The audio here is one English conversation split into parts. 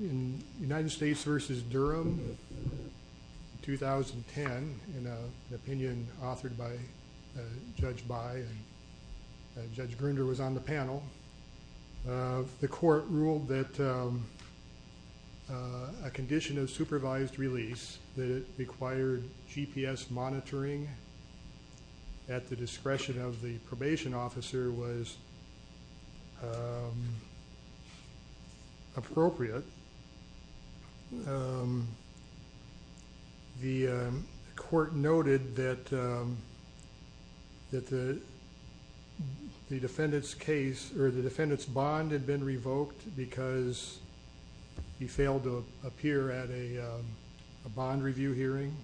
In United States v. Durham, 2010, in an opinion authored by Judge By and Judge Grunder was on the panel, the court ruled that a condition of supervised release that required GPS monitoring at the discretion of the probation officer was appropriate. The court noted that the defendant's case or the defendant's bond had been revoked because he failed to appear at a bond review hearing,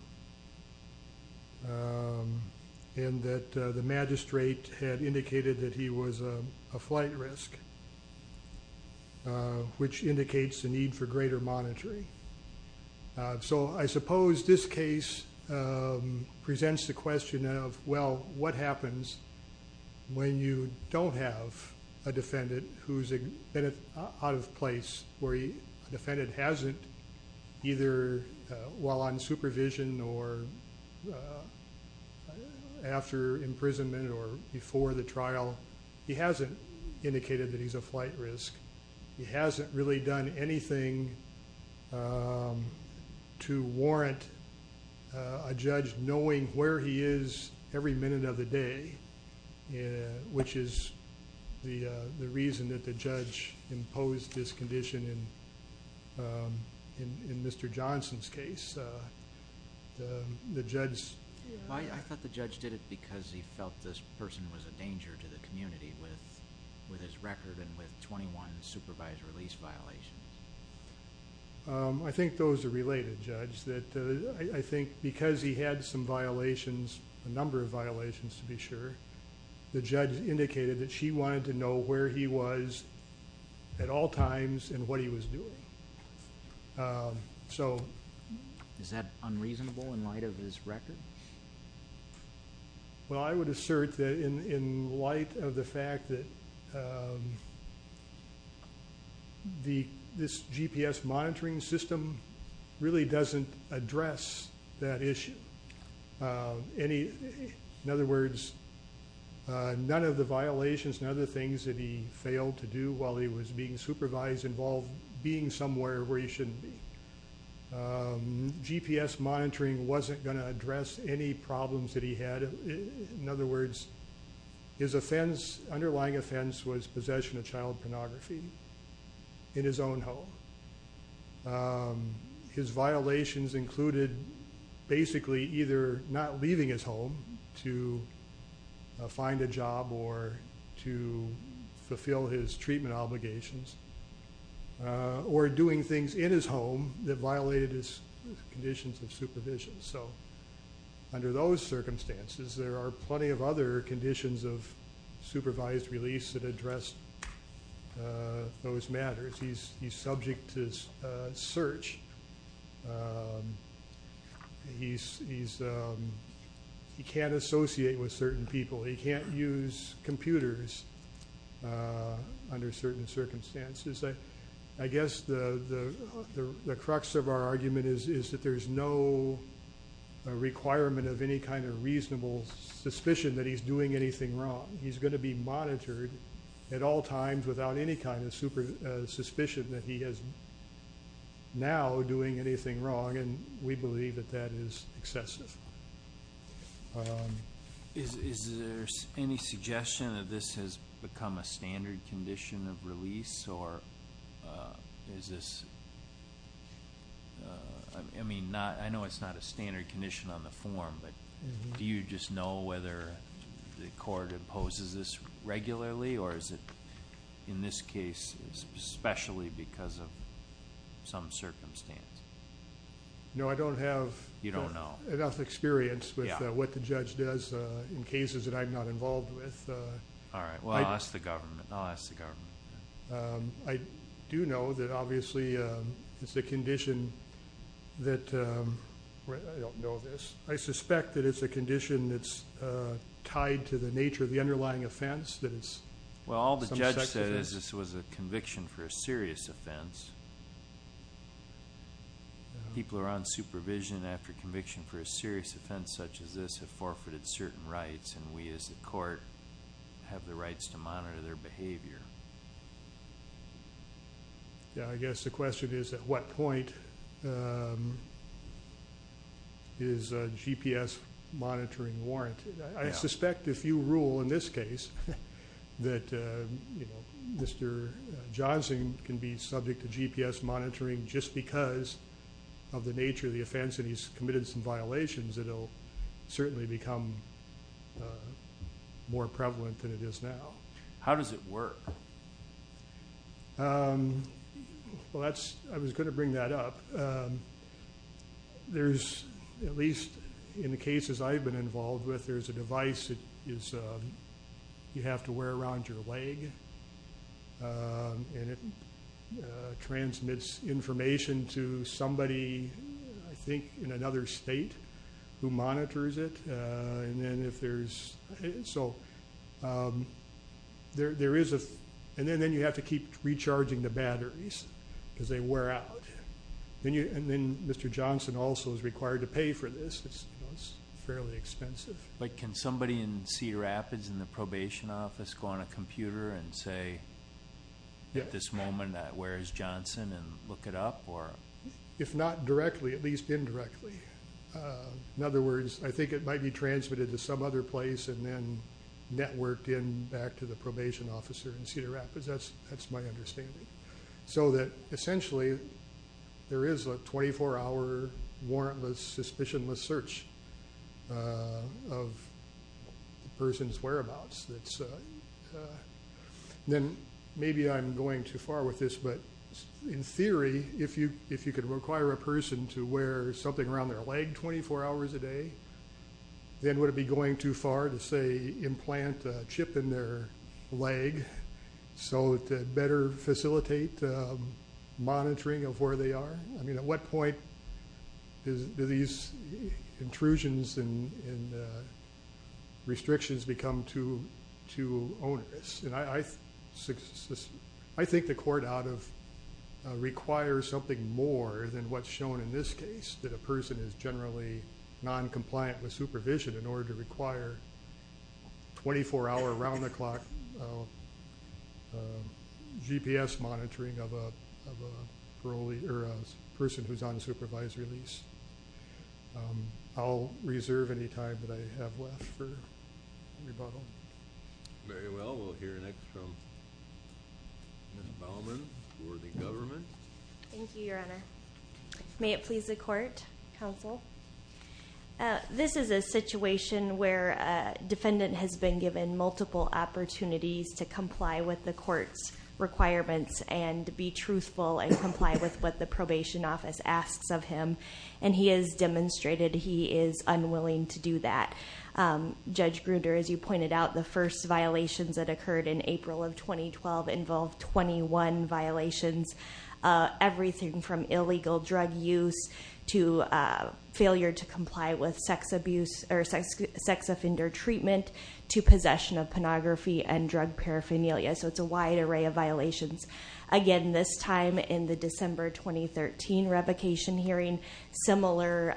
and that the magistrate had indicated that he was a flight risk, which indicates the need for greater monitoring. So I suppose this case presents the question of, well, what happens when you don't have a defendant who's been out of place where a defendant hasn't either while on supervision or after imprisonment or before the trial, he hasn't indicated that he's a flight risk. He hasn't really done anything to warrant a judge knowing where he is every minute of the day, which is the reason that the judge imposed this condition in Mr. Johnson's case. The judge's I thought the judge did it because he felt this person was a danger to the community with his record and with 21 supervised release violations. I think those are related, Judge, that I think because he had some violations, a number of violations to be sure, the judge indicated that she wanted to know where he was at all times and what he was doing. So is that unreasonable in light of his record? Well, I would assert that in light of the fact that this GPS monitoring system really doesn't address that issue. In other words, none of the violations and other things that he failed to do while he was being supervised involved being somewhere where he shouldn't be. GPS monitoring wasn't going to address any problems that he had. In other words, his offense, underlying offense, was possession of child pornography in his own home. His fulfill his treatment obligations or doing things in his home that violated his conditions of supervision. So under those circumstances, there are plenty of other conditions of supervised release that address those matters. He's subject to search. He can't associate with certain under certain circumstances. I guess the crux of our argument is that there's no requirement of any kind of reasonable suspicion that he's doing anything wrong. He's going to be monitored at all times without any kind of suspicion that he is now doing anything wrong, and we standard condition of release, or is this... I mean, I know it's not a standard condition on the form, but do you just know whether the court imposes this regularly, or is it in this case especially because of some circumstance? No, I don't have... You don't know... enough experience with what the judge does in cases that I'm not involved with. All right. Well, I'll ask the government. I'll ask the government. I do know that obviously it's a condition that... I don't know this. I suspect that it's a condition that's tied to the nature of the underlying offense that is... Well, all the judge said is this was a conviction for a serious offense. People who are on supervision after conviction for a serious offense such as this have forfeited certain rights, and we as the court have the rights to monitor their behavior. Yeah, I guess the question is at what point is a GPS monitoring warrant? I suspect if you rule in this case that Mr. Johnson can be subject to GPS monitoring just because of the nature of the offense and he's committed some violations, it'll certainly become more prevalent than it is now. How does it work? Well, that's... I was going to bring that up. There's... at least in the cases I've been involved with, there's a device that you have to wear around your leg, and it transmits information to somebody, I think in another state, who monitors it. And then if there's... so... there is a... and then you have to keep recharging the batteries because they wear out. And then Mr. Johnson also is required to pay for this. It's fairly expensive. Can somebody in Cedar Rapids in the probation office go on a computer and say at this moment that where is Johnson and look it up or... If not directly, at least indirectly. In other words, I think it might be transmitted to some other place and then networked in back to the probation officer in Cedar Rapids. That's my understanding. So that essentially there is a 24-hour warrantless, suspicionless search of a person's whereabouts. Then maybe I'm going too far with this, but in theory, if you could require a person to wear something around their leg 24 hours a day, then would it be going too far to say implant a chip in their leg so to better facilitate monitoring of where they are? I mean, at what point do these intrusions and restrictions become too onerous? And I think the court out of... requires something more than what's shown in this case, that a person is generally noncompliant with supervision in order to or a person who's on supervisory lease. I'll reserve any time that I have left for rebuttal. Very well. We'll hear next from Ms. Baumann for the government. Thank you, Your Honor. May it please the court, counsel. This is a situation where a defendant has been given multiple opportunities to comply with the court's requirements and be truthful and comply with what the probation office asks of him, and he has demonstrated he is unwilling to do that. Judge Gruder, as you pointed out, the first violations that occurred in April of 2012 involved 21 violations, everything from illegal drug use to failure to comply with sex offender treatment to possession of pornography and drug paraphernalia. So again, this time in the December 2013 revocation hearing, similar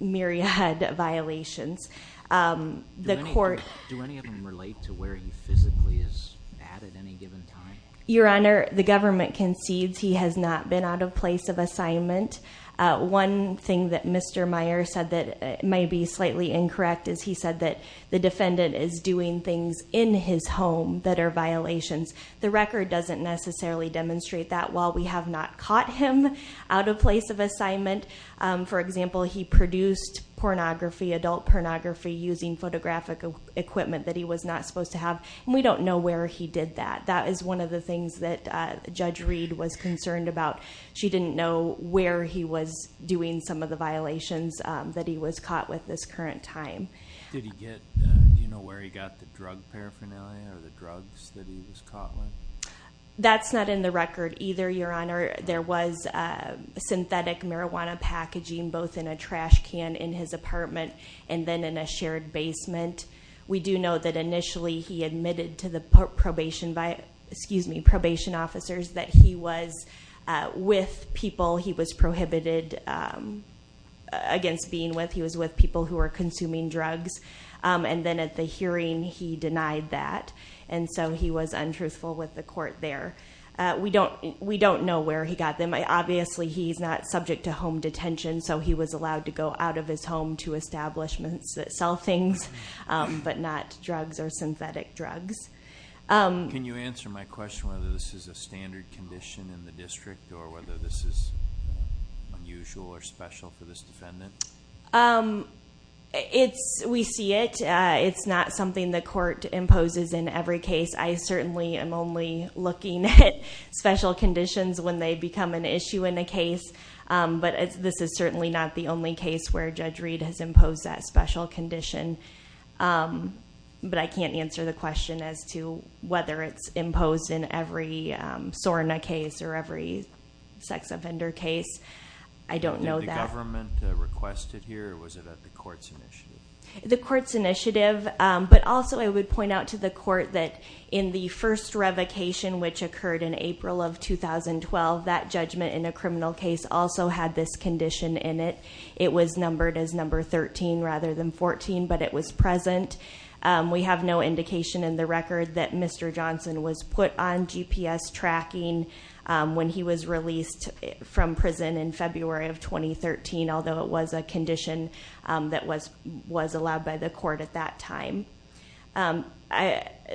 myriad violations. The court... Do any of them relate to where he physically is at at any given time? Your Honor, the government concedes he has not been out of place of assignment. One thing that Mr. Meyer said that may be slightly incorrect is he said that the defendant is doing things in his home that are violations. The record doesn't necessarily demonstrate that while we have not caught him out of place of assignment. For example, he produced pornography, adult pornography using photographic equipment that he was not supposed to have, and we don't know where he did that. That is one of the things that Judge Reed was concerned about. She didn't know where he was doing some of the violations that he was caught with this current time. Did he get... Do you know where he got the drug paraphernalia or the drugs that he was caught with? That's not in the record either, Your Honor. There was synthetic marijuana packaging both in a trash can in his apartment and then in a shared basement. We do know that initially he admitted to the probation officers that he was with people he was prohibited against being with. He was with people who were consuming drugs, and then at the hearing he denied that, and so he was untruthful with the court there. We don't know where he got them. Obviously, he's not subject to home detention, so he was allowed to go out of his home to establishments that sell things, but not drugs or synthetic drugs. Can you answer my question whether this is a standard condition in the district or whether this is unusual or special for this defendant? We see it. It's not something the court imposes in every case. I certainly am only looking at special conditions when they become an issue in a case, but this is certainly not the only case where Judge Reed has imposed that special condition, but I can't answer the question as to whether it's imposed in every SORNA case or every sex offender case. I don't know that. Did the government request it here or was it at the court's initiative? The court's initiative, but also I would point out to the court that in the first revocation which occurred in April of 2012, that judgment in a criminal case also had this condition in it. It was numbered as number 13 rather than 14, but it was present. We have no indication in the record that Mr. Johnson was put on GPS tracking when he was released from prison in February of 2013, although it was a condition that was allowed by the court at that time.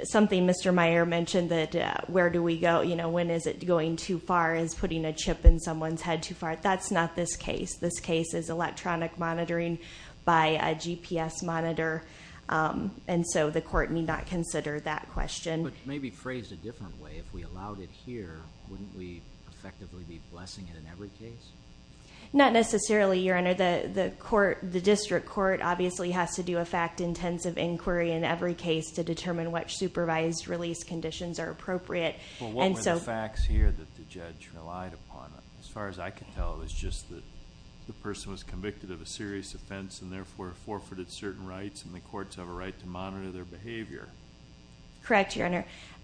Something Mr. Meyer mentioned that where do we go, when is it going too far, is putting a chip in someone's head too far? That's not this case. This case is electronic monitoring by a GPS monitor, and so the court need not consider that question. But maybe phrased a different way, if we allowed it here, wouldn't we effectively be blessing it in every case? Not necessarily, Your Honor. The district court obviously has to do a fact-intensive inquiry in every case to determine which supervised release conditions are appropriate. What were the facts here that the judge relied upon? As far as I can tell, it was just that the person was convicted of a serious offense and therefore forfeited certain rights, and the courts have a right to monitor their behavior. Correct, Your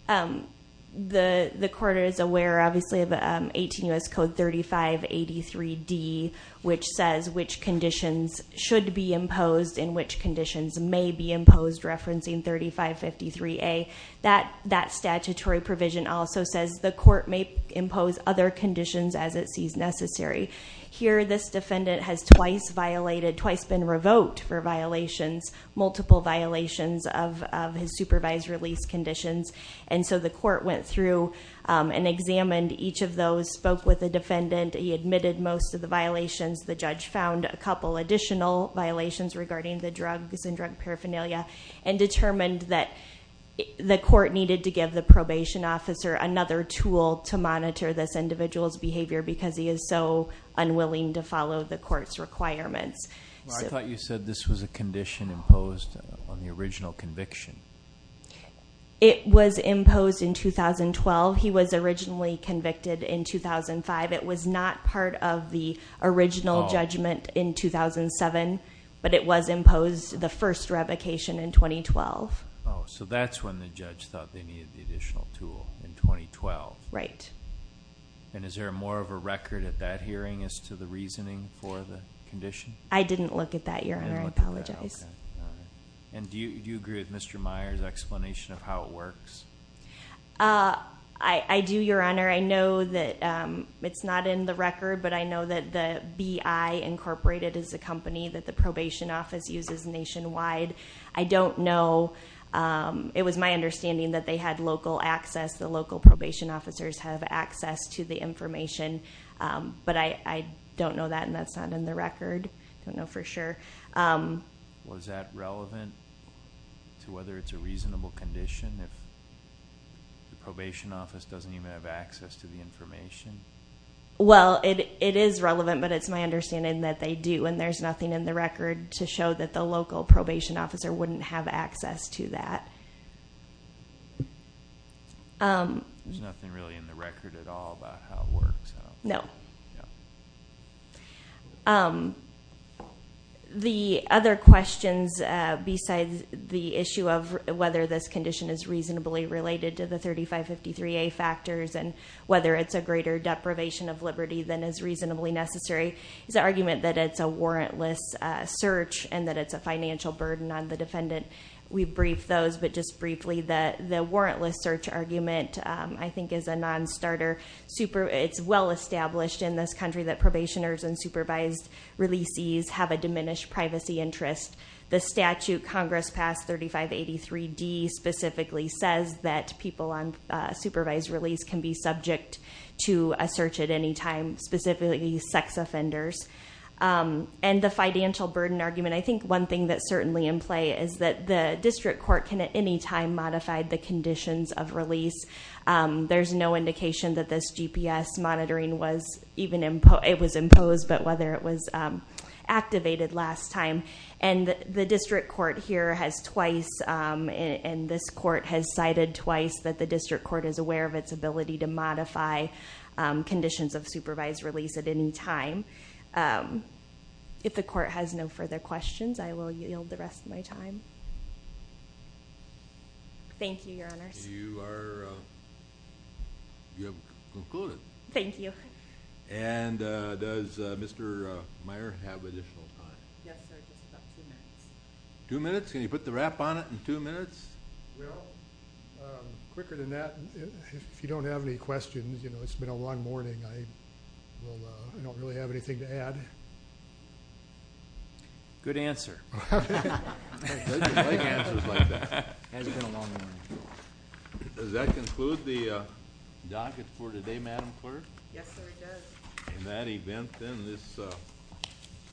Honor. The court is aware, obviously, of 18 U.S. Code 3583D, which says which conditions should be imposed and which conditions may be imposed, referencing 3553A. That statutory provision also says the court may impose other conditions as it sees necessary. Here, this defendant has twice violated, twice been revoked for violations, multiple violations of his supervised release conditions, and so the court went through and examined each of those, spoke with the defendant, he admitted most of the violations, the judge found a couple additional violations regarding the drugs and drug paraphernalia, and determined that the court needed to give the probation officer another tool to monitor this individual's behavior because he is so unwilling to follow the court's requirements. I thought you said this was a condition imposed on the original conviction. It was imposed in 2012. He was originally convicted in 2005. It was not part of the Oh, so that's when the judge thought they needed the additional tool, in 2012. Right. And is there more of a record at that hearing as to the reasoning for the condition? I didn't look at that, Your Honor. I apologize. And do you agree with Mr. Meyer's explanation of how it works? I do, Your Honor. I know that it's not in the record, but I know that the BI Incorporated is a company that the probation office uses nationwide. I don't know. It was my understanding that they had local access. The local probation officers have access to the information, but I don't know that, and that's not in the record. I don't know for sure. Was that relevant to whether it's a reasonable condition if the probation office doesn't even have access to the information? Well, it is relevant, but it's my understanding that they do, and there's nothing in the record to show that the local probation officer wouldn't have access to that. There's nothing really in the record at all about how it works? No. No. The other questions besides the issue of whether this condition is reasonably related to the deprivation of liberty than is reasonably necessary is the argument that it's a warrantless search and that it's a financial burden on the defendant. We've briefed those, but just briefly, the warrantless search argument, I think, is a non-starter. It's well established in this country that probationers and supervised releasees have a diminished privacy interest. The statute, Congress Pass 3583D, specifically says that people on supervised release can be subject to a search at any time, specifically sex offenders. And the financial burden argument, I think one thing that's certainly in play is that the district court can at any time modify the conditions of release. There's no indication that this GPS monitoring was even, it was imposed, but whether it was activated last time. And the district court here has cited twice that the district court is aware of its ability to modify conditions of supervised release at any time. If the court has no further questions, I will yield the rest of my time. Thank you, your honors. You are, you have concluded. Thank you. And does Mr. Meyer have additional time? Yes, sir, just about two minutes. Two minutes? Can you put the wrap on it in two minutes? Well, quicker than that, if you don't have any questions, you know, it's been a long morning. I don't really have anything to add. Good answer. I like answers like that. It has been a long morning. Does that conclude the docket for today, Madam Clerk? Yes, sir, it does. In that event, then, this